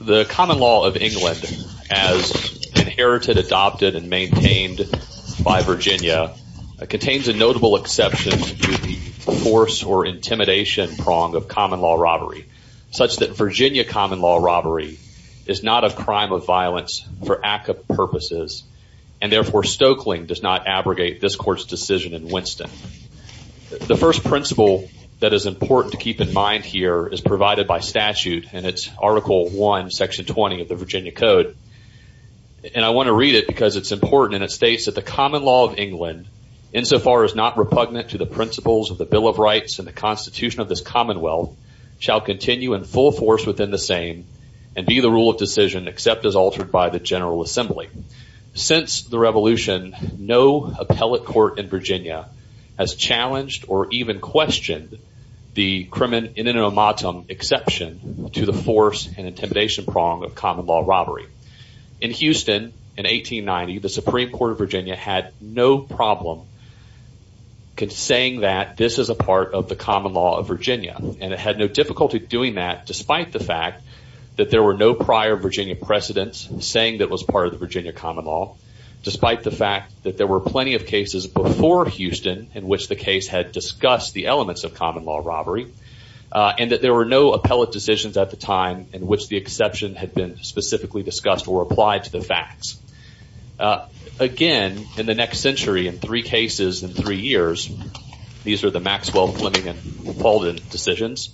The common law of England, as inherited, adopted, and maintained by Virginia, contains a notable exception to the force or intimidation prong of common law robbery, such that Virginia and therefore Stoeckling does not abrogate this court's decision in Winston. The first principle that is important to keep in mind here is provided by statute in its Article I, Section 20 of the Virginia Code. And I want to read it because it's important and it states that the common law of England, insofar as not repugnant to the principles of the Bill of Rights and the Constitution of this Commonwealth, shall continue in full force within the same and be the rule of decision except as altered by the General Assembly. Since the Revolution, no appellate court in Virginia has challenged or even questioned the crimin in enomatum exception to the force and intimidation prong of common law robbery. In Houston, in 1890, the Supreme Court of Virginia had no problem saying that this is a part of the common law of Virginia and it had no difficulty doing that despite the fact that there were no prior Virginia precedents saying that it was part of the Virginia common law, despite the fact that there were plenty of cases before Houston in which the case had discussed the elements of common law robbery, and that there were no appellate decisions at the time in which the exception had been specifically discussed or applied to the facts. Again, in the next century, in three cases in three years, these are the Maxwell, Fleming and Falden decisions,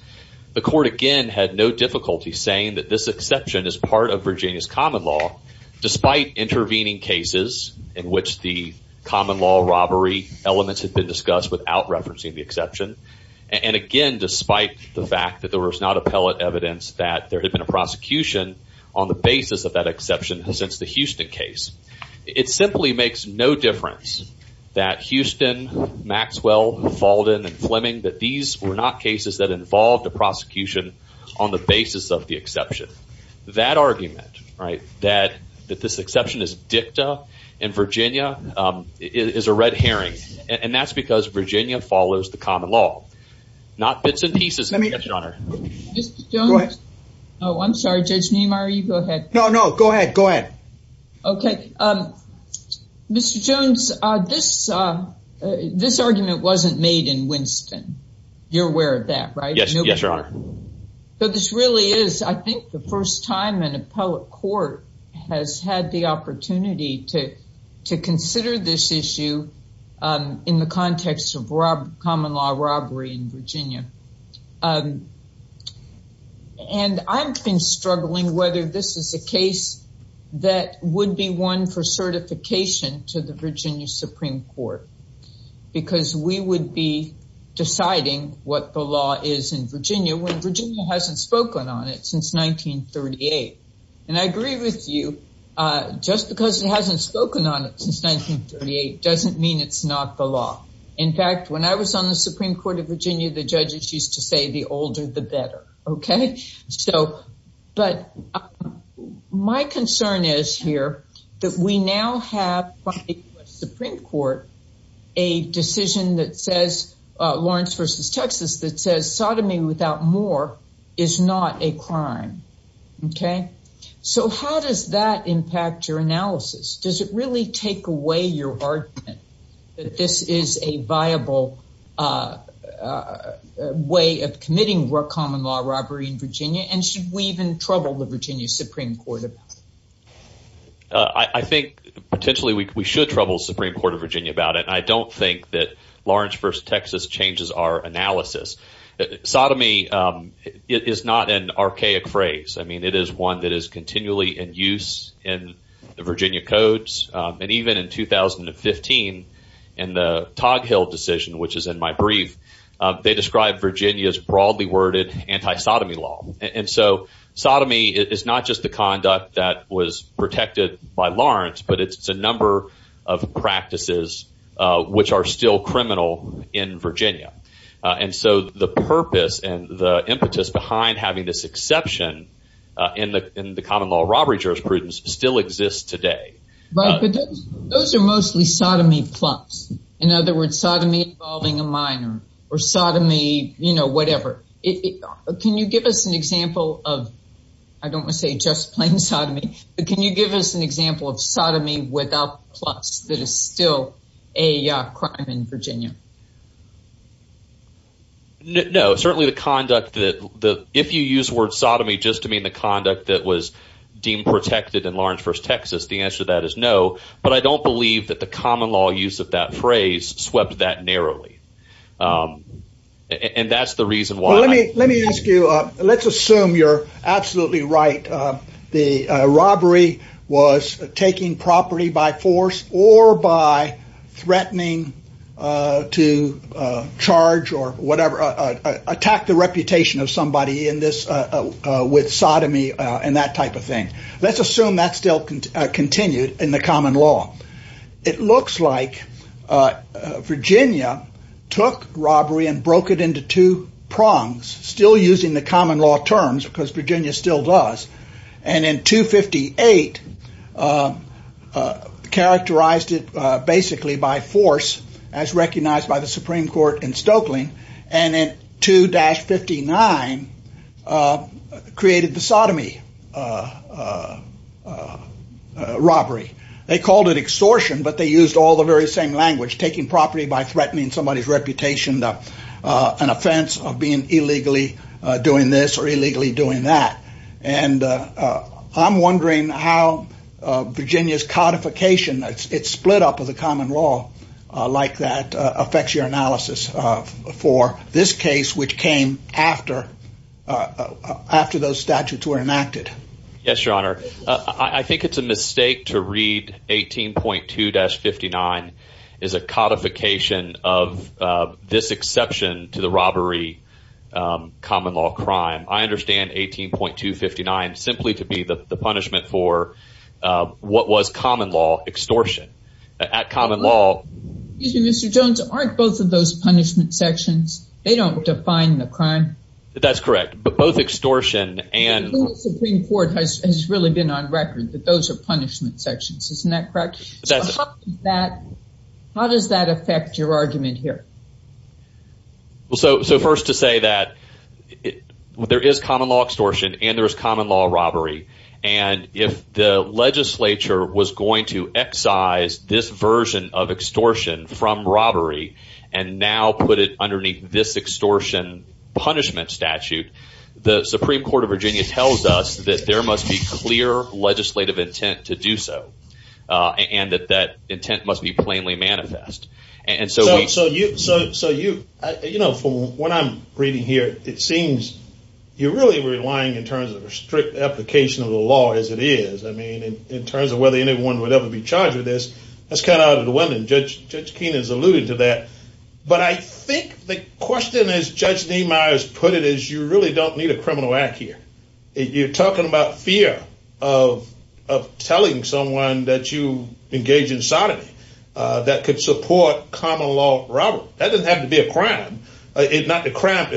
the court again had no difficulty saying that this exception is part of Virginia's common law, despite intervening cases in which the common law robbery elements had been discussed without referencing the exception, and again, despite the fact that there was not appellate evidence that there had been a prosecution on the basis of that exception since the Houston case. It simply makes no difference that Houston, Maxwell, Falden and Fleming, that these were not cases that involved a prosecution on the basis of the exception. That argument, right, that this exception is dicta in Virginia is a red herring and that's because Virginia follows the common law, not bits and pieces of the exception on our- Let me- Go ahead. Oh, I'm sorry. Judge Neymar, you go ahead. No, no, go ahead. Go ahead. Okay. Mr. Jones, this argument wasn't made in Winston. You're aware of that, right? Yes. Yes, Your Honor. But this really is, I think, the first time an appellate court has had the opportunity to consider this issue in the context of common law robbery in Virginia. And I've been struggling whether this is a case that would be one for certification to the Virginia Supreme Court because we would be deciding what the law is in Virginia when Virginia hasn't spoken on it since 1938. And I agree with you, just because it hasn't spoken on it since 1938 doesn't mean it's not the law. In fact, when I was on the Supreme Court of Virginia, the judges used to say, the older the better. Okay? So, but my concern is here that we now have, by the U.S. Supreme Court, a decision that says, Lawrence v. Texas, that says sodomy without more is not a crime. Okay? So, how does that impact your analysis? Does it really take away your argument that this is a viable way of committing common law robbery in Virginia? And should we even trouble the Virginia Supreme Court about it? I think, potentially, we should trouble the Supreme Court of Virginia about it. I don't think that Lawrence v. Texas changes our analysis. Sodomy is not an archaic phrase. I mean, it is one that is continually in use in the Virginia codes. And even in 2015, in the Toghill decision, which is in my brief, they described Virginia's broadly worded anti-sodomy law. And so, sodomy is not just the conduct that was protected by Lawrence, but it's a number of practices which are still criminal in Virginia. And so, the purpose and the impetus behind having this exception in the common law robbery jurisprudence still exists today. Right. But those are mostly sodomy plus. In other words, sodomy involving a minor, or sodomy, you know, whatever. Can you give us an example of, I don't want to say just plain sodomy, but can you give us an example of sodomy without plus that is still a crime in Virginia? No, certainly the conduct that the, if you use the word sodomy just to mean the conduct that was deemed protected in Lawrence versus Texas, the answer to that is no. But I don't believe that the common law use of that phrase swept that narrowly. And that's the reason why. Let me, let me ask you, let's assume you're absolutely right. The robbery was taking property by force or by threatening to charge or whatever, attack the reputation of somebody in this, with sodomy and that type of thing. Let's assume that still continued in the common law. It looks like Virginia took robbery and broke it into two prongs, still using the common law terms, because Virginia still does, and in 258 characterized it basically by force as recognized by the Supreme Court in Stokeling, and in 2-59 created the sodomy robbery. They called it extortion, but they used all the very same language, taking property by force or illegally doing that. And I'm wondering how Virginia's codification, its split up of the common law like that affects your analysis for this case, which came after, after those statutes were enacted. Yes, your honor. I think it's a mistake to read 18.2-59 as a codification of this exception to the robbery common law crime. I understand 18.2-59 simply to be the punishment for what was common law extortion. At common law- Excuse me, Mr. Jones, aren't both of those punishment sections, they don't define the crime. That's correct. But both extortion and- The Supreme Court has really been on record that those are punishment sections, isn't that correct? That's- How does that affect your argument here? Well, so first to say that there is common law extortion and there is common law robbery. And if the legislature was going to excise this version of extortion from robbery and now put it underneath this extortion punishment statute, the Supreme Court of Virginia tells us that there must be clear legislative intent to do so. And that that intent must be plainly manifest. And so we- So you, you know, from what I'm reading here, it seems you're really relying in terms of a strict application of the law as it is, I mean, in terms of whether anyone would ever be charged with this. That's kind of out of the way, and Judge Keene has alluded to that. But I think the question, as Judge D. Myers put it, is you really don't need a criminal act here. You're talking about fear of telling someone that you engage in sodomy that could support common law robbery. That doesn't have to be a crime. It's not the crime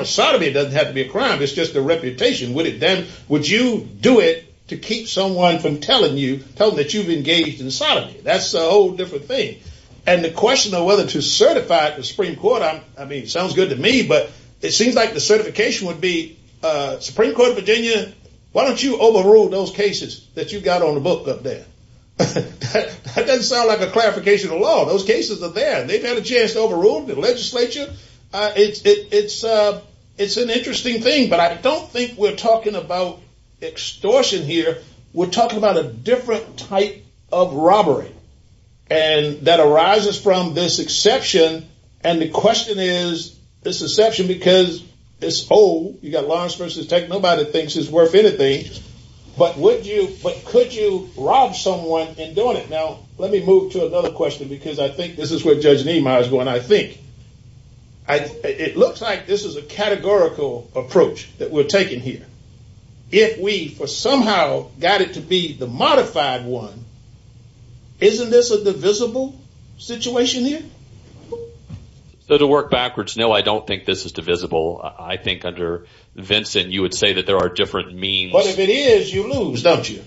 of sodomy, it doesn't have to be a crime, it's just a reputation. Would you do it to keep someone from telling you, telling that you've engaged in sodomy? That's a whole different thing. And the question of whether to certify the Supreme Court, I mean, sounds good to me, but it seems like the certification would be, Supreme Court of Virginia, why don't you overrule those cases that you've got on the book up there? That doesn't sound like a clarification of the law. Those cases are there. They've had a chance to overrule the legislature. It's an interesting thing, but I don't think we're talking about extortion here. We're talking about a different type of robbery that arises from this exception, and the question is, this exception, because it's old, you've got Lawrence versus Tech, nobody thinks it's worth anything, but could you rob someone in doing it? Now, let me move to another question, because I think this is where Judge Niemeyer's going, I think. It looks like this is a categorical approach that we're taking here. If we somehow got it to be the modified one, isn't this a divisible situation here? So, to work backwards, no, I don't think this is divisible. I think under Vincent, you would say that there are different means. But if it is, you lose, don't you?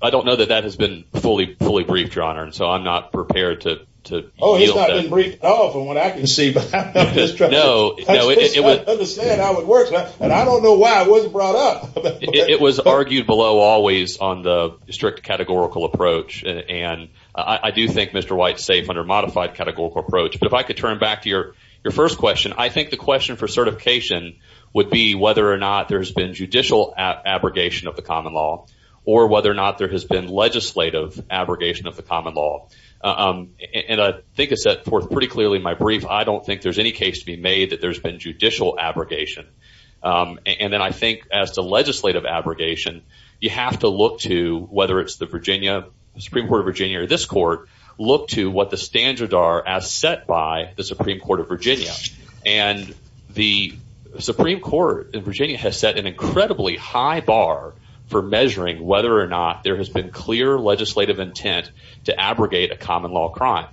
I don't know that that has been fully briefed, Your Honor, and so I'm not prepared to yield that. Oh, he's not been briefed at all from what I can see, but I'm just trying to understand how it works, and I don't know why it wasn't brought up. It was argued below always on the strict categorical approach, and I do think Mr. White's safe under a modified categorical approach, but if I could turn back to your first question, I think the question for certification would be whether or not there's been judicial abrogation of the common law, or whether or not there has been legislative abrogation of the common law. And I think it's set forth pretty clearly in my brief, I don't think there's any case to be made that there's been judicial abrogation. And then I think as to legislative abrogation, you have to look to, whether it's the Virginia Supreme Court of Virginia or this court, look to what the standards are as set by the Supreme Court of Virginia. And the Supreme Court in Virginia has set an incredibly high bar for measuring whether or not there has been clear legislative intent to abrogate a common law crime.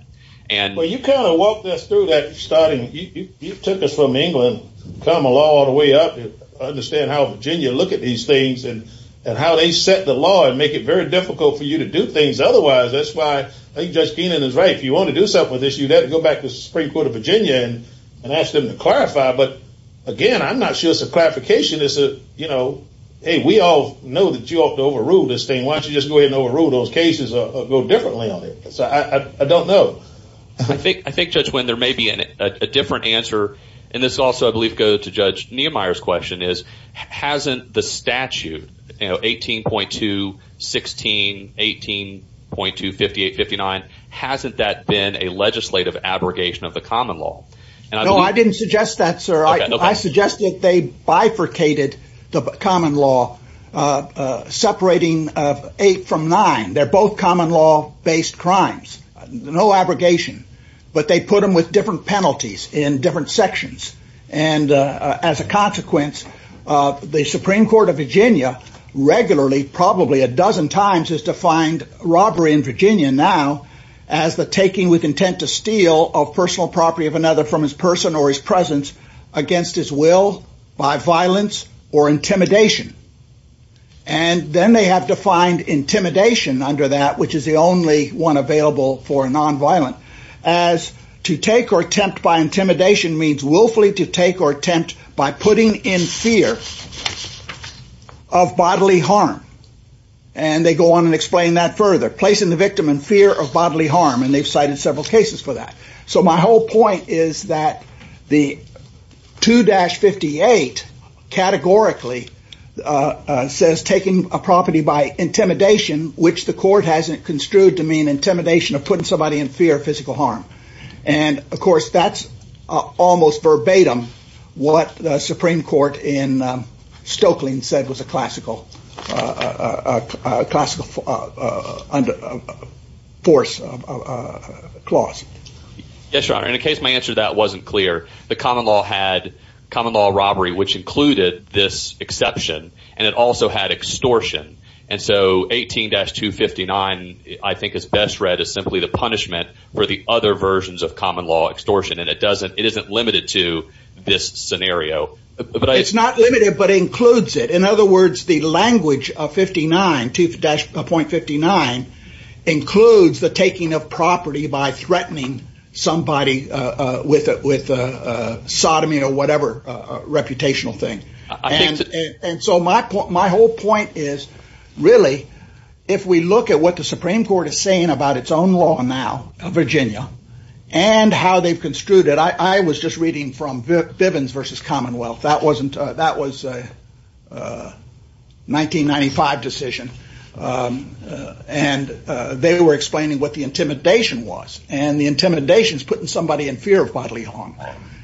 Well, you kind of walked us through that starting, you took us from England, common law all the way up to understand how Virginia look at these things, and how they set the law and make it very difficult for you to do things otherwise. That's why I think Judge Keenan is right, if you want to do something with this, you have to go back to the Supreme Court of Virginia and ask them to clarify. But again, I'm not sure it's a clarification, it's a, you know, hey, we all know that you ought to overrule this thing, why don't you just go ahead and overrule those cases or go differently on it? So I don't know. I think, Judge Wynn, there may be a different answer, and this also, I believe, goes to Judge Niemeyer's question is, hasn't the statute, you know, 18.2, 16, 18.2, 58, 59, hasn't that been a legislative abrogation of the common law? No, I didn't suggest that, sir. I suggested they bifurcated the common law, separating eight from nine. They're both common law based crimes, no abrogation, but they put them with different penalties in different sections, and as a consequence, the Supreme Court of Virginia regularly, probably a dozen times, has defined robbery in Virginia now as the taking with intent to steal of personal property of another from his person or his presence against his will by violence or intimidation. And then they have defined intimidation under that, which is the only one available for intimidation means willfully to take or attempt by putting in fear of bodily harm. And they go on and explain that further, placing the victim in fear of bodily harm, and they've cited several cases for that. So my whole point is that the 2-58 categorically says taking a property by intimidation, which the court hasn't construed to mean intimidation of putting somebody in fear of physical harm. And of course, that's almost verbatim what the Supreme Court in Stokeling said was a classical force clause. Yes, Your Honor, in a case my answer to that wasn't clear, the common law had common law robbery, which included this exception, and it also had extortion. And so 18-259, I think is best read as simply the punishment for the other versions of common law extortion. And it isn't limited to this scenario. It's not limited, but includes it. In other words, the language of 59, 2-.59, includes the taking of property by threatening somebody with sodomy or whatever reputational thing. And so my whole point is, really, if we look at what the Supreme Court is saying about its own law now, Virginia, and how they've construed it, I was just reading from Bivens versus Commonwealth. That was a 1995 decision. And they were explaining what the intimidation was, and the intimidation is putting somebody in fear of bodily harm.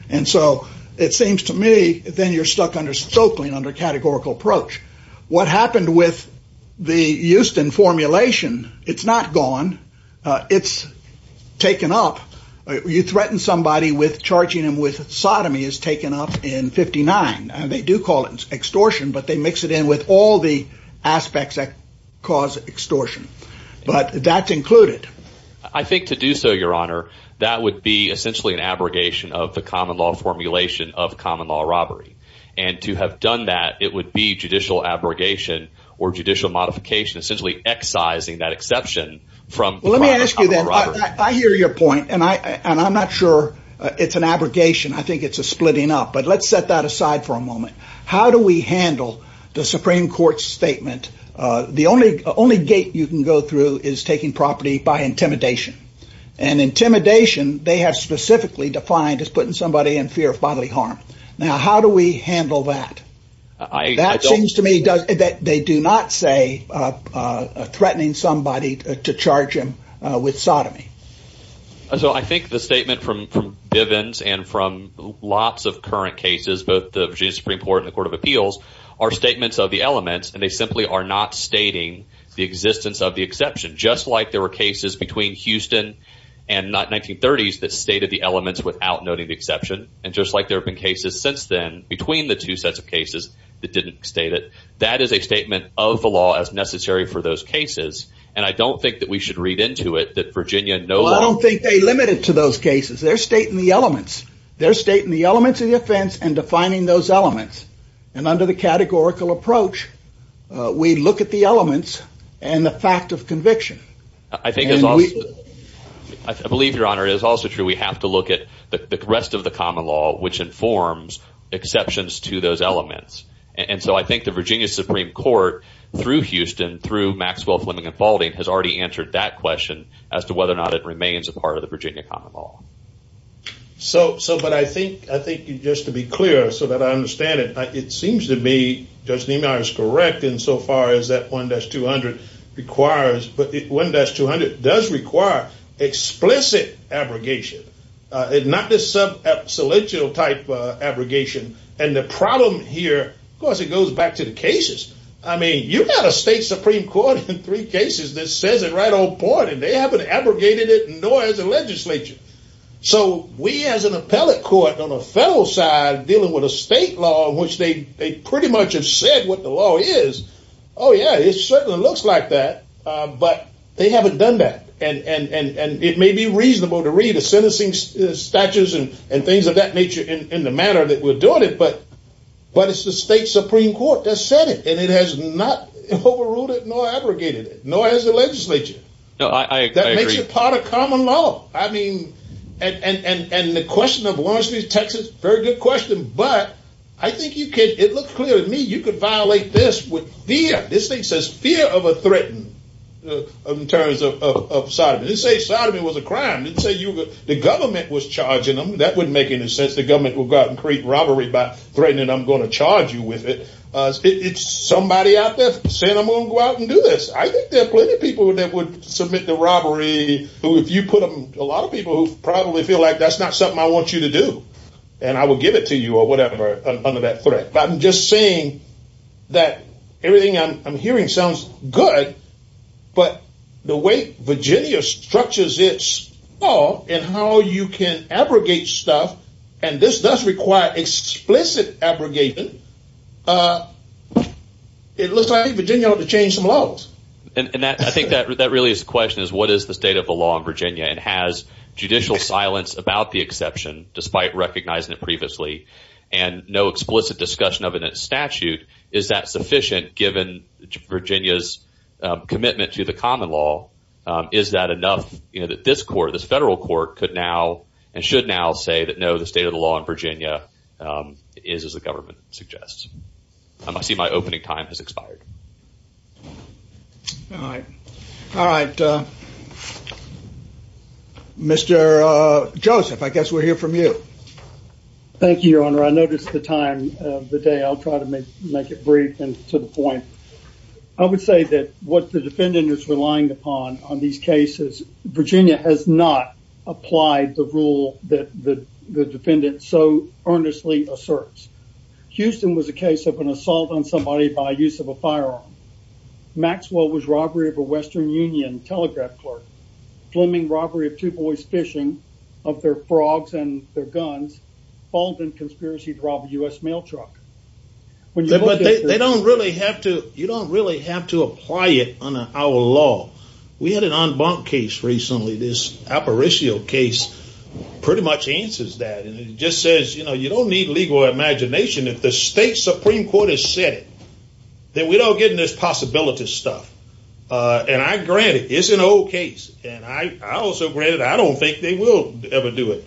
And so it seems to me, then you're stuck under Stoeckling, under categorical approach. What happened with the Houston formulation, it's not gone, it's taken up. You threaten somebody with charging them with sodomy is taken up in 59. And they do call it extortion, but they mix it in with all the aspects that cause extortion. But that's included. I think to do so, your honor, that would be essentially an abrogation of the common law formulation of common law robbery. And to have done that, it would be judicial abrogation, or judicial modification, essentially excising that exception from- Let me ask you then, I hear your point, and I'm not sure it's an abrogation, I think it's a splitting up. But let's set that aside for a moment. How do we handle the Supreme Court's statement, the only gate you can go through is taking property by intimidation. And intimidation, they have specifically defined as putting somebody in fear of bodily harm. Now how do we handle that? That seems to me that they do not say threatening somebody to charge him with sodomy. So I think the statement from Bivens and from lots of current cases, both the Virginia Supreme Court and the Court of Appeals are statements of the elements, and they simply are not stating the existence of the exception. Just like there were cases between Houston and the 1930s that stated the elements without noting the exception, and just like there have been cases since then between the two sets of cases that didn't state it. That is a statement of the law as necessary for those cases, and I don't think that we should read into it that Virginia no longer- Well I don't think they limit it to those cases, they're stating the elements. They're stating the elements of the offense and defining those elements. And under the categorical approach, we look at the elements and the fact of conviction. I think it's also- I believe, Your Honor, it is also true we have to look at the rest of the common law which informs exceptions to those elements. And so I think the Virginia Supreme Court, through Houston, through Maxwell, Fleming and Faulding, has already answered that question as to whether or not it remains a part of the Virginia common law. So, but I think, just to be clear so that I understand it, it seems to be, Judge Niemeyer is correct in so far as that 1-200 requires, but 1-200 does require explicit abrogation. Not this sub-absolute type abrogation, and the problem here, of course it goes back to the cases. I mean, you've got a state Supreme Court in three cases that says it right on point, and they haven't abrogated it, nor has the legislature. So we, as an appellate court on the federal side, dealing with a state law in which they pretty much have said what the law is, oh yeah, it certainly looks like that, but they haven't done that. And it may be reasonable to read the sentencing statutes and things of that nature in the manner that we're doing it, but it's the state Supreme Court that said it, and it has not overruled it, nor abrogated it, nor has the legislature. No, I agree. That makes it part of common law, I mean, and the question of Lawrence v. Texas, very good question, but I think you could, it looks clear to me, you could violate this with fear. This thing says fear of a threatened, in terms of sodomy. It didn't say sodomy was a crime, it didn't say the government was charging them. That wouldn't make any sense. The government would go out and create robbery by threatening, I'm going to charge you with it. It's somebody out there saying, I'm going to go out and do this. I think there are plenty of people that would submit to robbery, who if you put them, a lot of people who probably feel like that's not something I want you to do, and I will give it to you or whatever under that threat. But I'm just saying that everything I'm hearing sounds good, but the way Virginia structures its law and how you can abrogate stuff, and this does require explicit abrogation, it looks like Virginia ought to change some laws. I think that really is the question, is what is the state of the law in Virginia, and has judicial silence about the exception, despite recognizing it previously, and no explicit discussion of it in statute, is that sufficient given Virginia's commitment to the common law, is that enough that this court, this federal court, could now, and should now say that no, the state of the law in Virginia is as the government suggests. I see my opening time has expired. All right. Mr. Joseph, I guess we'll hear from you. Thank you, Your Honor. I noticed the time of the day. I'll try to make it brief and to the point. I would say that what the defendant is relying upon on these cases, Virginia has not applied the rule that the defendant so earnestly asserts. Houston was a case of an assault on somebody by use of a firearm. Maxwell was robbery of a Western Union telegraph clerk. Fleming, robbery of two boys fishing of their frogs and their guns. Fulton, conspiracy to rob a U.S. mail truck. But they don't really have to, you don't really have to apply it on our law. We had an en banc case recently, this Aparicio case, pretty much answers that. And it just says, you don't need legal imagination if the state Supreme Court has said it, then we don't get in this possibility stuff. And I grant it, it's an old case. And I also grant it, I don't think they will ever do it.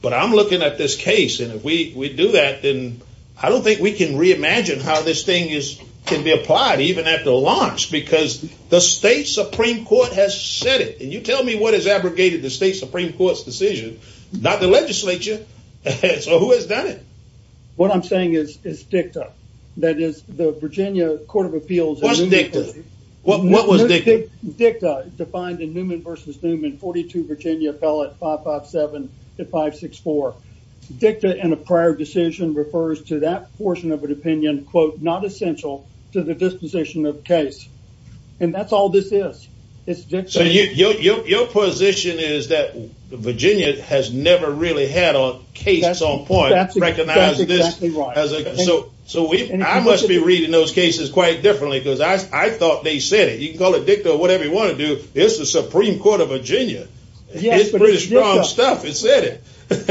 But I'm looking at this case, and if we do that, then I don't think we can reimagine how this thing can be applied, even at the launch, because the state Supreme Court has said it. And you tell me what has abrogated the state Supreme Court's decision, not the legislature, so who has done it? What I'm saying is dicta, that is, the Virginia Court of Appeals- What's dicta? What was dicta? Dicta, defined in Newman v. Newman, 42 Virginia, ballot 557-564. Dicta in a prior decision refers to that portion of an opinion, quote, not essential to the disposition of case. And that's all this is, it's dicta. So your position is that Virginia has never really had a case on point- That's exactly right. So I must be reading those cases quite differently, because I thought they said it. You can call it dicta or whatever you want to do, it's the Supreme Court of Virginia. It's pretty strong stuff, it said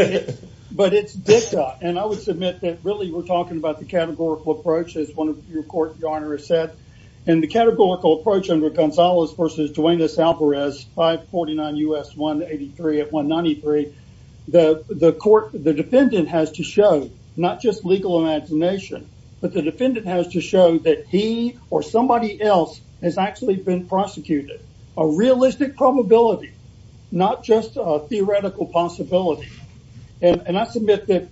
it. But it's dicta, and I would submit that really we're talking about the categorical approach, as one of your court garner has said. And the categorical approach under Gonzalez v. Duenas-Alvarez, 549 U.S. 183 at 193, the defendant has to show, not just legal imagination, but the defendant has to show that he or somebody else has actually been prosecuted. A realistic probability, not just a theoretical possibility. And I submit that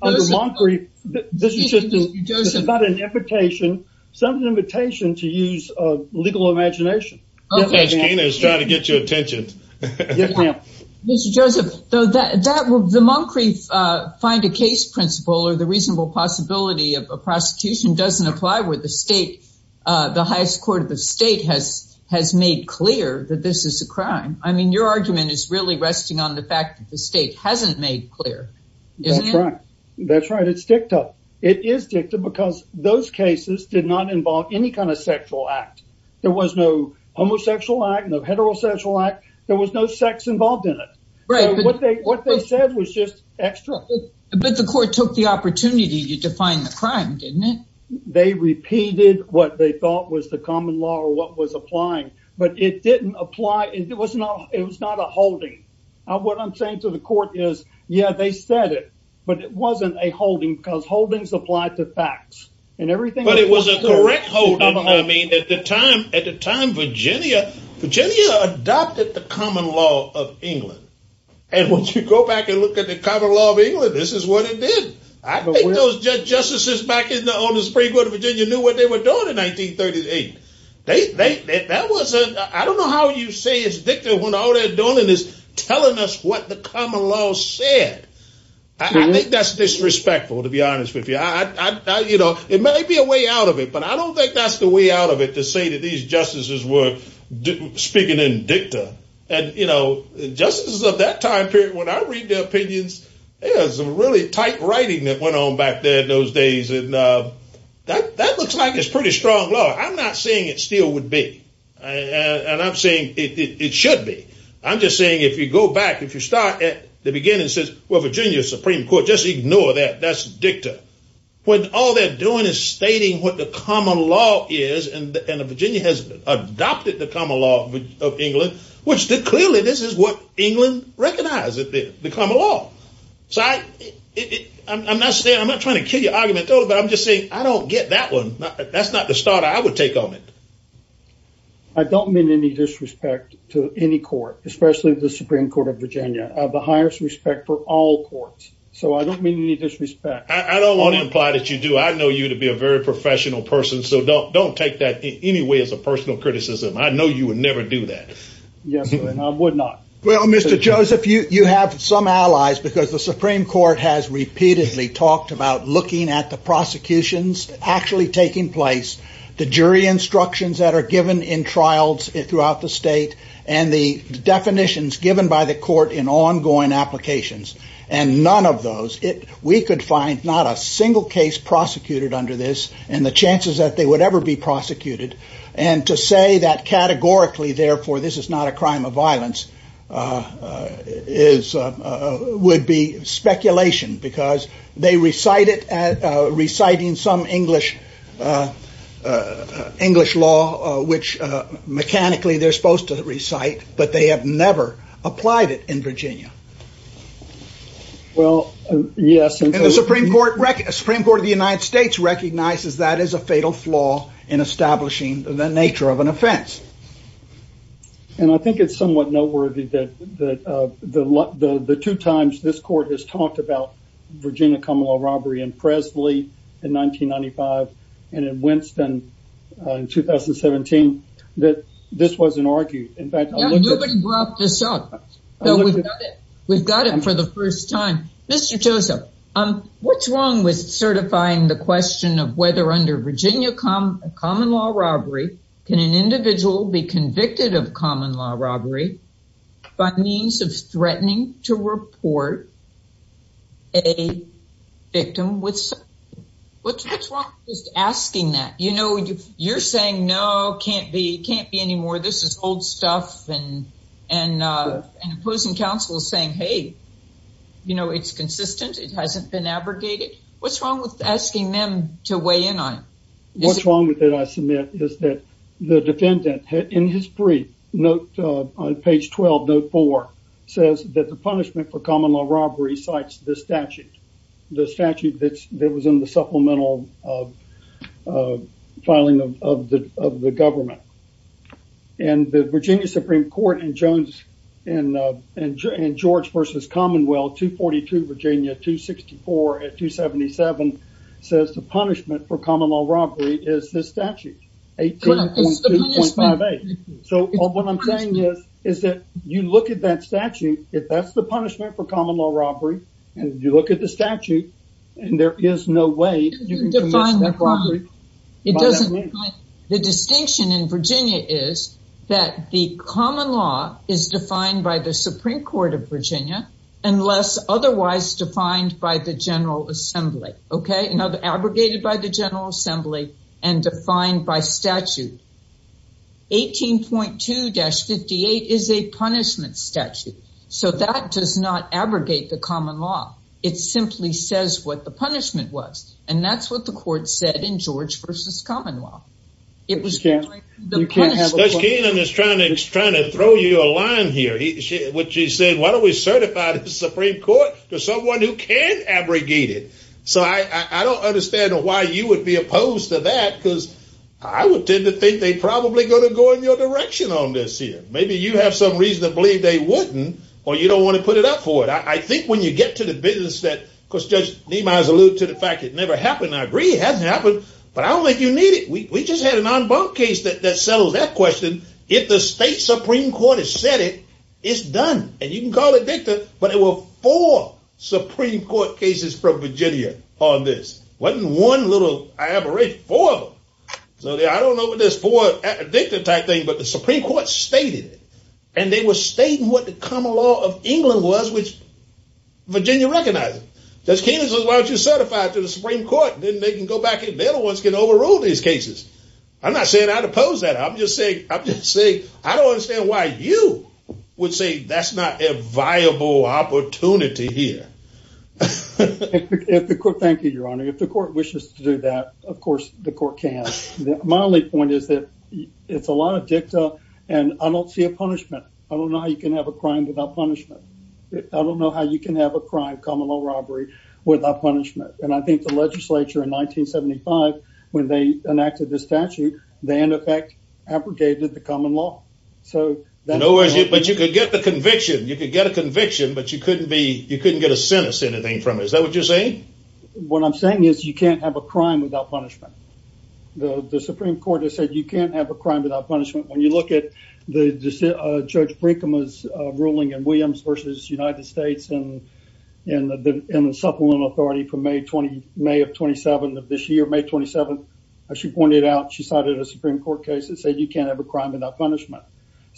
under Moncrieff, this is just about an invitation, some of the invitation to use legal imagination. Okay. Gina is trying to get your attention. Mr. Joseph, the Moncrieff find a case principle or the reasonable possibility of a prosecution doesn't apply with the state. The highest court of the state has made clear that this is a crime. I mean, your argument is really resting on the fact that the state hasn't made clear. Isn't it? That's right. It's dicta. It is dicta because those cases did not involve any kind of sexual act. There was no homosexual act, no heterosexual act. There was no sex involved in it. Right. What they said was just extra. But the court took the opportunity to define the crime, didn't it? They repeated what they thought was the common law or what was applying. But it didn't apply. It was not a holding. What I'm saying to the court is, yeah, they said it. But it wasn't a holding because holdings applied to facts. And everything- But it was a correct holding. I mean, at the time, Virginia adopted the common law of England. And once you go back and look at the common law of England, this is what it did. I think those justices back on the Supreme Court of Virginia knew what they were doing in 1938. They- That wasn't- I don't know how you say it's dicta when all they're doing is telling us what the common law said. I think that's disrespectful, to be honest with you. I- You know, it may be a way out of it. But I don't think that's the way out of it to say that these justices were speaking in dicta. And, you know, justices of that time period, when I read their opinions, there was some really tight writing that went on back there in those days. And that looks like it's pretty strong law. I'm not saying it still would be. And I'm saying it should be. I'm just saying if you go back, if you start at the beginning, it says, well, Virginia Supreme Court, just ignore that. That's dicta. When all they're doing is stating what the common law is, and Virginia has adopted the common law of England, which clearly this is what England recognized as the common law. So I'm not saying- I'm not trying to kill your argument at all, but I'm just saying I don't get that one. That's not the start I would take on it. I don't mean any disrespect to any court, especially the Supreme Court of Virginia. I have the highest respect for all courts. So I don't mean any disrespect. I don't want to imply that you do. I know you to be a very professional person. So don't take that in any way as a personal criticism. I know you would never do that. Yes, I would not. Well, Mr. Joseph, you have some allies because the Supreme Court has repeatedly talked about looking at the prosecutions, actually taking place, the jury instructions that are given in trials throughout the state, and the definitions given by the court in ongoing applications, and none of those. We could find not a single case prosecuted under this, and the chances that they would ever be prosecuted, and to say that categorically, therefore, this is not a crime of violence is, would be speculation because they recited at reciting some English, English law, which mechanically they're supposed to recite, but they have never applied it in Virginia. Well, yes, and the Supreme Court record, Supreme Court of the United States recognizes that is a fatal flaw in establishing the nature of an offense. And I think it's somewhat noteworthy that the two times this court has talked about Virginia common law robbery in Presley in 1995, and in Winston in 2017, that this wasn't argued. In fact, nobody brought this up. We've got it for the first time. Mr. Joseph, what's wrong with certifying the question of whether under Virginia common law robbery, can an individual be convicted of common law robbery by means of threatening to report a victim with, what's wrong with just asking that? You know, you're saying, no, can't be, can't be anymore. This is old stuff, and opposing counsel is saying, hey, you know, it's consistent. It hasn't been abrogated. What's wrong with asking them to weigh in on it? What's wrong with it, I submit, is that the defendant, in his brief, note, on page 12, note four, says that the punishment for common law robbery cites this statute. The statute that was in the supplemental filing of the government. And the Virginia Supreme Court and George versus Commonwealth, 242 Virginia, 264 at 277, says the punishment for common law robbery is this statute. 18.2.58. So, what I'm saying is, is that you look at that statute, if that's the punishment for common law robbery, and you look at the statute, and there is no way you can commit that robbery. The distinction in Virginia is that the common law is defined by the Supreme Court of Virginia, unless otherwise defined by the General Assembly. Okay? Now, abrogated by the General Assembly, and defined by statute. 18.2-58 is a punishment statute. So, that does not abrogate the common law. It simply says what the punishment was. And that's what the court said in George versus Commonwealth. It was- You can't, you can't have- Judge Keenan is trying to throw you a line here. Which he said, why don't we certify the Supreme Court to someone who can abrogate it? So, I don't understand why you would be opposed to that, because I would tend to think they'd probably go to go in your direction on this here. Maybe you have some reason to believe they wouldn't, or you don't want to put it up for it. I think when you get to the business that- Of course, Judge Nima has alluded to the fact it never happened. I agree, it hasn't happened. But I don't think you need it. We just had an en banc case that settled that question. If the state Supreme Court has said it, it's done. And you can call it dicta, but there were four Supreme Court cases from Virginia on this. Wasn't one little aberration, four of them. So, I don't know what this four dicta type thing, but the Supreme Court stated it. And they were stating what the common law of England was, which Virginia recognized it. Judge Keenan says, why don't you certify it to the Supreme Court? Then they can go back and they're the ones that can overrule these cases. I'm not saying I'd oppose that. I'm just saying, I don't understand why you would say that's not a viable opportunity here. Thank you, Your Honor. If the court wishes to do that, of course, the court can. My only point is that it's a lot of dicta and I don't see a punishment. I don't know how you can have a crime without punishment. I don't know how you can have a crime, common law robbery, without punishment. And I think the legislature in 1975, when they enacted this statute, they, in effect, abrogated the common law. But you could get the conviction. You could get a conviction, but you couldn't get a sentence or anything from it. Is that what you're saying? What I'm saying is you can't have a crime without punishment. The Supreme Court has said you can't have a crime without punishment. When you look at Judge Brinkham's ruling in Williams v. United States and the supplemental authority from May of 27, this year, May 27, she pointed out, she cited a Supreme Court case that said you can't have a crime without punishment.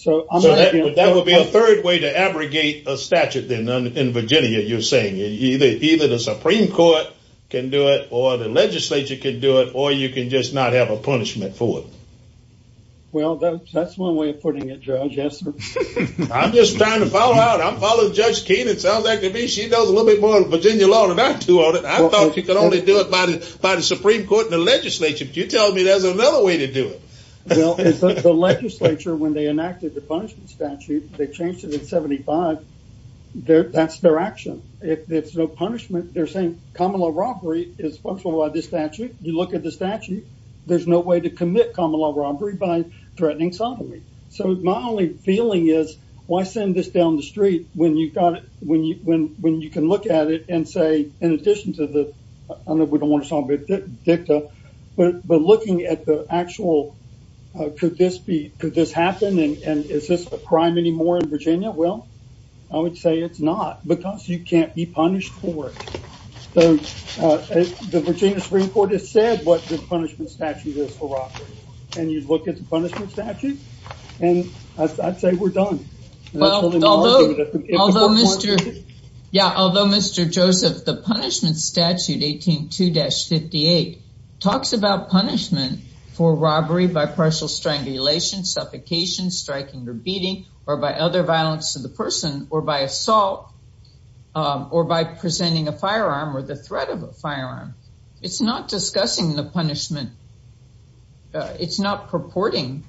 That would be a third way to abrogate a statute in Virginia, you're saying. Either the Supreme Court can do it, or the legislature can do it, or you can just not have a punishment for it. Well, that's one way of putting it, Judge. Yes, sir. I'm just trying to follow out. I'm following Judge Keenan. Sounds like to me she knows a little bit more of the Virginia law than I do on it. I thought you could only do it by the Supreme Court and the legislature, but you're telling me there's another way to do it. Well, the legislature, when they enacted the punishment statute, they changed it in 75. That's their action. If there's no punishment, they're saying common law robbery is functional by this statute. You look at the statute, there's no way to commit common law robbery by threatening sodomy. So my only feeling is, why send this down the street when you can look at it and say, I don't know if we don't want to sound a bit dicta, but looking at the actual, could this be, could this happen, and is this a crime anymore in Virginia? Well, I would say it's not, because you can't be punished for it. The Virginia Supreme Court has said what the punishment statute is for robbery, and you look at the punishment statute, and I'd say we're done. Well, although Mr. Joseph, the punishment statute 18-2-58 talks about punishment for robbery by partial strangulation, suffocation, striking, or beating, or by other violence to the person, or by assault, or by presenting a firearm or the threat of a firearm. It's not discussing the punishment. It's not purporting,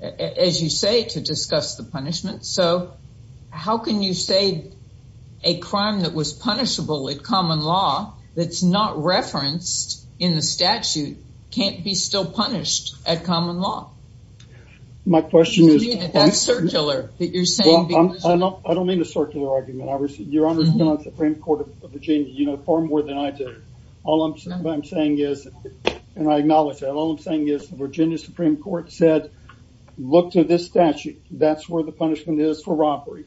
as you say, to discuss the punishment. So, how can you say a crime that was punishable in common law, that's not referenced in the statute, can't be still punished at common law? My question is- That's circular, that you're saying- Well, I don't mean a circular argument. Your Honor's been on the Supreme Court of Virginia far more than I did. All I'm saying is, and I acknowledge that, all I'm saying is the Virginia Supreme Court said, look to this statute. That's where the punishment is for robbery.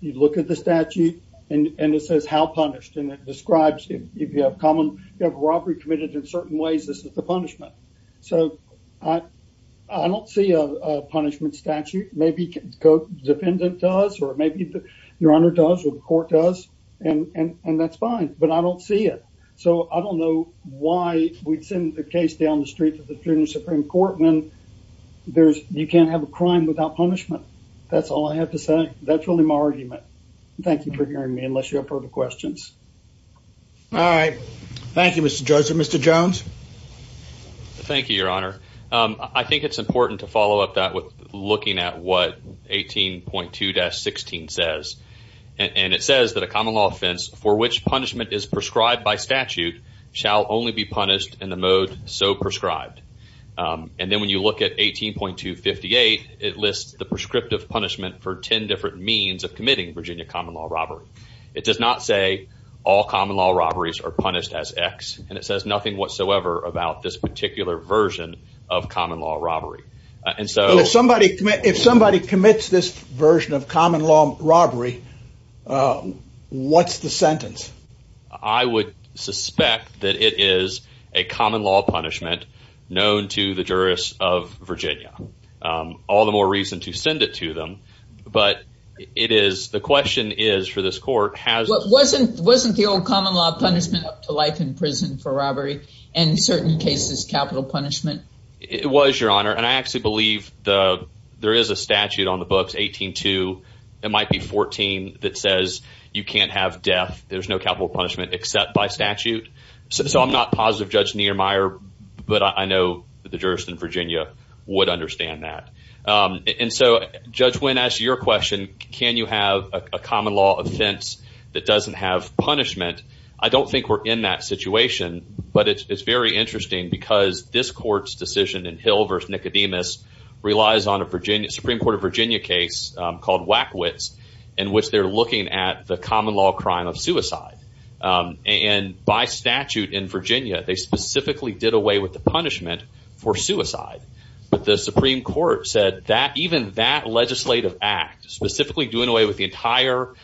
You look at the statute, and it says how punished, and it describes if you have robbery committed in certain ways, this is the punishment. So, I don't see a punishment statute. Maybe the defendant does, or maybe your Honor does, or the court does, and that's fine, but I don't see it. So, I don't know why we'd send the case down the street to the Virginia Supreme Court when you can't have a crime without punishment. That's all I have to say. That's really my argument. Thank you for hearing me, unless you have further questions. All right. Thank you, Mr. Judge. Mr. Jones? Thank you, Your Honor. I think it's important to follow up that with looking at what 18.2-16 says. And it says that a common law offense for which punishment is prescribed by statute shall only be punished in the mode so prescribed. And then when you look at 18.2-58, it lists the prescriptive punishment for 10 different means of committing Virginia common law robbery. It does not say all common law robberies are punished as X, and it says nothing whatsoever about this particular version of common law robbery. And so... If somebody commits this version of common law robbery, what's the sentence? I would suspect that it is a common law punishment known to the jurists of Virginia. All the more reason to send it to them. But it is... The question is, for this court, has... But wasn't the old common law punishment up to life in prison for robbery, and in certain cases, capital punishment? It was, Your Honor. I actually believe there is a statute on the books, 18.2. It might be 14 that says you can't have death. There's no capital punishment except by statute. So I'm not positive, Judge Niemeyer, but I know the jurist in Virginia would understand that. And so, Judge Wynn, as to your question, can you have a common law offense that doesn't have punishment? I don't think we're in that situation, but it's very interesting because this court's decision in Hill v. Nicodemus relies on a Supreme Court of Virginia case called Wackwitz, in which they're looking at the common law crime of suicide. And by statute in Virginia, they specifically did away with the punishment for suicide. But the Supreme Court said that even that legislative act, specifically doing away with the entire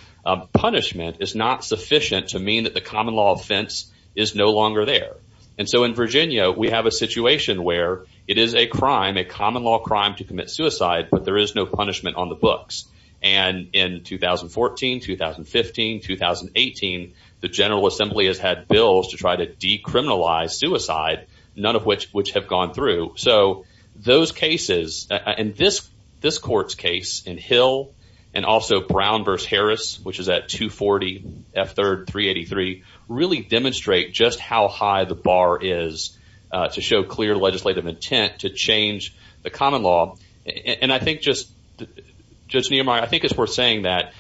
punishment, is not sufficient to mean that the common law offense is no longer there. And so in Virginia, we have a situation where it is a crime, a common law crime to commit suicide, but there is no punishment on the books. And in 2014, 2015, 2018, the General Assembly has had bills to try to decriminalize suicide, none of which have gone through. So those cases, and this court's case in Hill and also Brown v. Harris, which is at 240 F. 3rd 383, really demonstrate just how high the bar is to show clear legislative intent to change the common law. And I think, Judge Nehemiah, I think it's worth saying that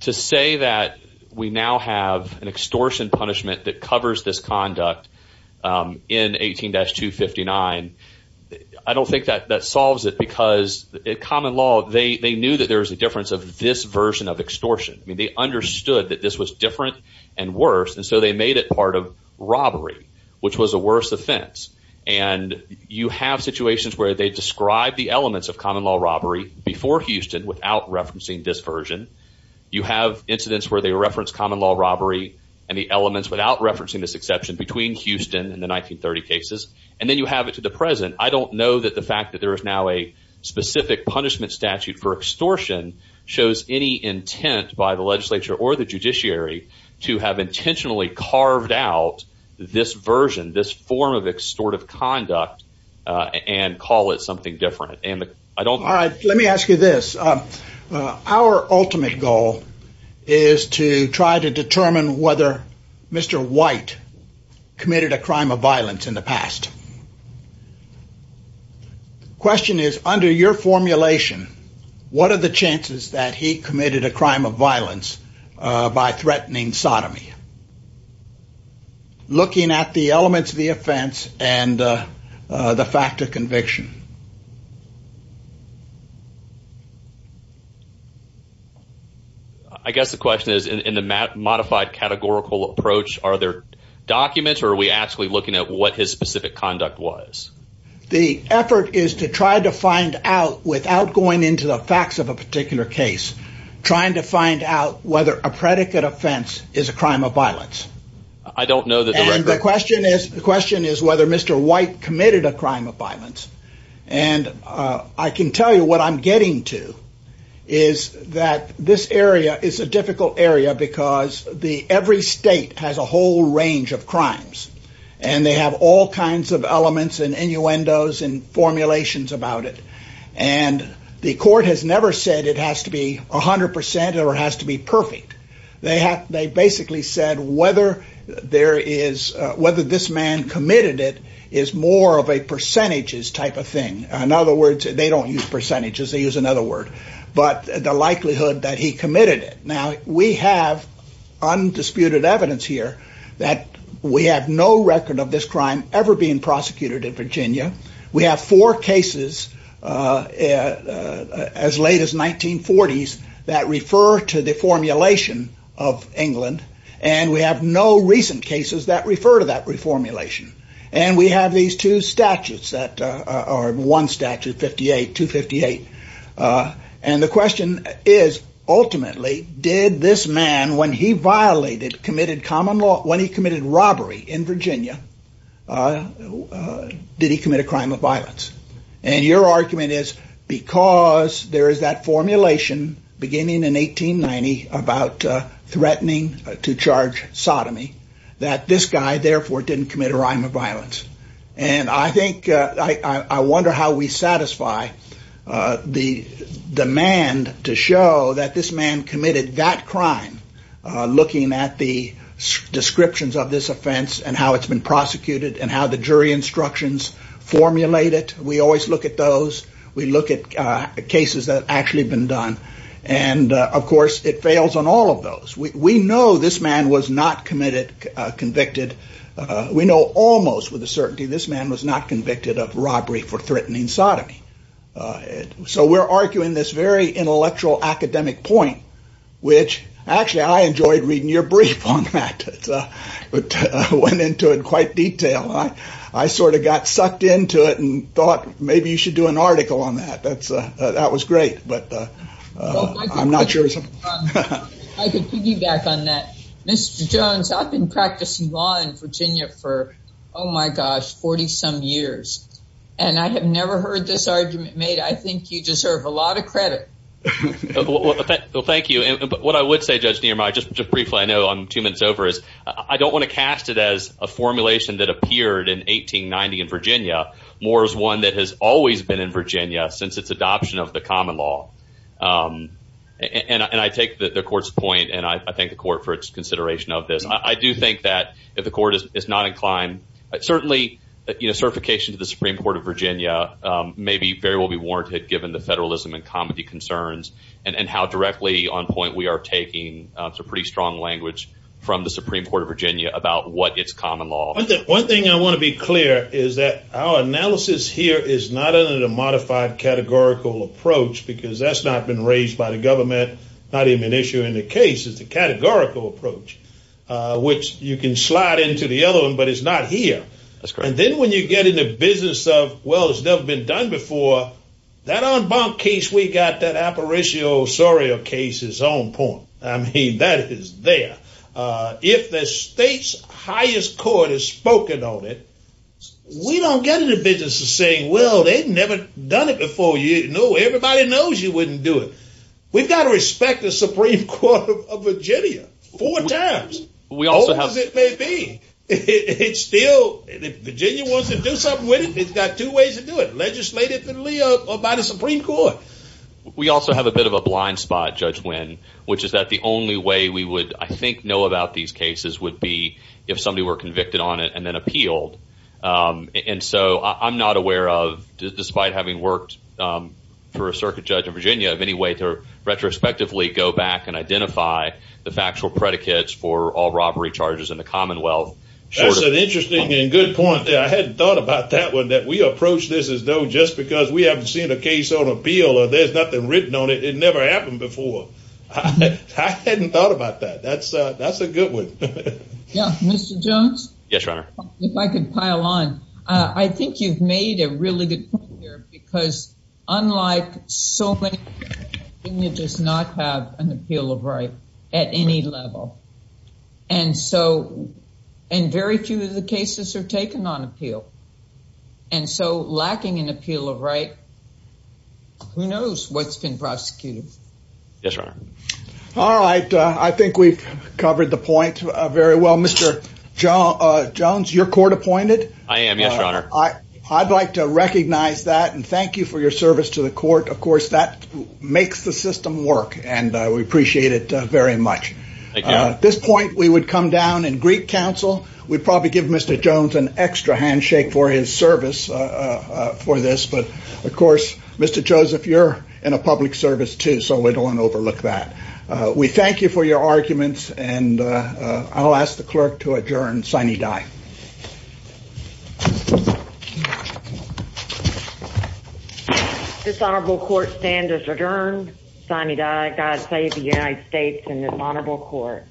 to say that we now have an extortion punishment that covers this conduct in 18-259, I don't think that solves it because in common law, they knew that there was a difference of this version of extortion. I mean, they understood that this was different and worse, and so they made it part of robbery, which was a worse offense. And you have situations where they describe the elements of common law robbery before Houston without referencing this version. You have incidents where they reference common law robbery and the elements without referencing this exception between Houston and the 1930 cases. And then you have it to the present. I don't know that the fact that there is now a specific punishment statute for extortion shows any intent by the legislature or the judiciary to have intentionally carved out this version, this form of extortive conduct, and call it something different. All right, let me ask you this. Our ultimate goal is to try to determine whether Mr. White committed a crime of violence in the past. The question is, under your formulation, what are the chances that he committed a crime of violence by threatening sodomy? Looking at the elements of the offense and the fact of conviction. I guess the question is, in the modified categorical approach, are there documents or are we actually looking at what his specific conduct was? The effort is to try to find out, without going into the facts of a particular case, trying to find out whether a predicate offense is a crime of violence. I don't know the record. And the question is whether Mr. White committed a crime of violence. And I can tell you what I'm getting to is that this area is a difficult area because every state has a whole range of crimes. And they have all kinds of elements and innuendos and formulations about it. And the court has never said it has to be 100% or it has to be perfect. They basically said whether this man committed it is more of a percentages type of thing. In other words, they don't use percentages. They use another word. But the likelihood that he committed it. We have undisputed evidence here that we have no record of this crime ever being prosecuted in Virginia. We have four cases as late as 1940s that refer to the formulation of England. And we have no recent cases that refer to that reformulation. And we have these two statutes that are one statute 58, 258. And the question is, ultimately, did this man, when he violated, committed common law, when he committed robbery in Virginia, did he commit a crime of violence? And your argument is because there is that formulation beginning in 1890 about threatening to charge sodomy, that this guy, therefore, didn't commit a crime of violence. And I wonder how we satisfy the demand to show that this man committed that crime, looking at the descriptions of this offense and how it's been prosecuted and how the jury instructions formulate it. We always look at those. We look at cases that have actually been done. And of course, it fails on all of those. We know this man was not convicted. We know almost with a certainty this man was not convicted of robbery for threatening sodomy. So we're arguing this very intellectual academic point, which actually, I enjoyed reading your brief on that. It went into it in quite detail. I sort of got sucked into it and thought maybe you should do an article on that. That was great. But I'm not sure. I could piggyback on that. Mr. Jones, I've been practicing law in Virginia for, oh my gosh, 40-some years. And I have never heard this argument made. I think you deserve a lot of credit. Well, thank you. What I would say, Judge Niermaier, just briefly, I know I'm two minutes over, is I don't want to cast it as a formulation that appeared in 1890 in Virginia, more as one that has always been in Virginia since its adoption of the common law. And I take the court's point, and I thank the court for its consideration of this. I do think that if the court is not inclined, certainly certification to the Supreme Court of Virginia may very well be warranted given the federalism and comity concerns and how directly on point we are taking some pretty strong language from the Supreme Court of Virginia about what is common law. One thing I want to be clear is that our analysis here is not under the modified categorical approach, because that's not been raised by the government. Not even an issue in the case is the categorical approach, which you can slide into the other one, but it's not here. That's correct. And then when you get in the business of, well, it's never been done before, that en banc case, we got that apparatio soria case's own point. I mean, that is there. If the state's highest court has spoken on it, we don't get in the business of saying, well, they'd never done it before. Everybody knows you wouldn't do it. We've got to respect the Supreme Court of Virginia four times, as old as it may be. If Virginia wants to do something with it, it's got two ways to do it, legislatively or by the Supreme Court. We also have a bit of a blind spot, Judge Wynn, which is that the only way we would, I think, know about these cases would be if somebody were convicted on it and then appealed. And so I'm not aware of, despite having worked for a circuit judge in Virginia, of any way to retrospectively go back and identify the factual predicates for all robbery charges in the Commonwealth. That's an interesting and good point. I hadn't thought about that one, that we approach this as though just because we haven't seen a case on appeal or there's nothing written on it, it never happened before. I hadn't thought about that. That's a good one. Mr. Jones? Yes, Your Honor. If I could pile on. I think you've made a really good point here, because unlike so many cases, Virginia does not have an appeal of right at any level. And so, and very few of the cases are taken on appeal. And so lacking an appeal of right, who knows what's been prosecuted? Yes, Your Honor. All right. I think we've covered the point very well. Mr. Jones, you're court appointed? I am, yes, Your Honor. I'd like to recognize that and thank you for your service to the court. Of course, that makes the system work, and we appreciate it very much. At this point, we would come down in Greek counsel. We'd probably give Mr. Jones an extra handshake for his service for this. But of course, Mr. Jones, if you're in a public service too, so we don't want to overlook that. We thank you for your arguments, and I'll ask the clerk to adjourn sine die. Dishonorable court stand is adjourned. Sine die. God save the United States in this honorable court.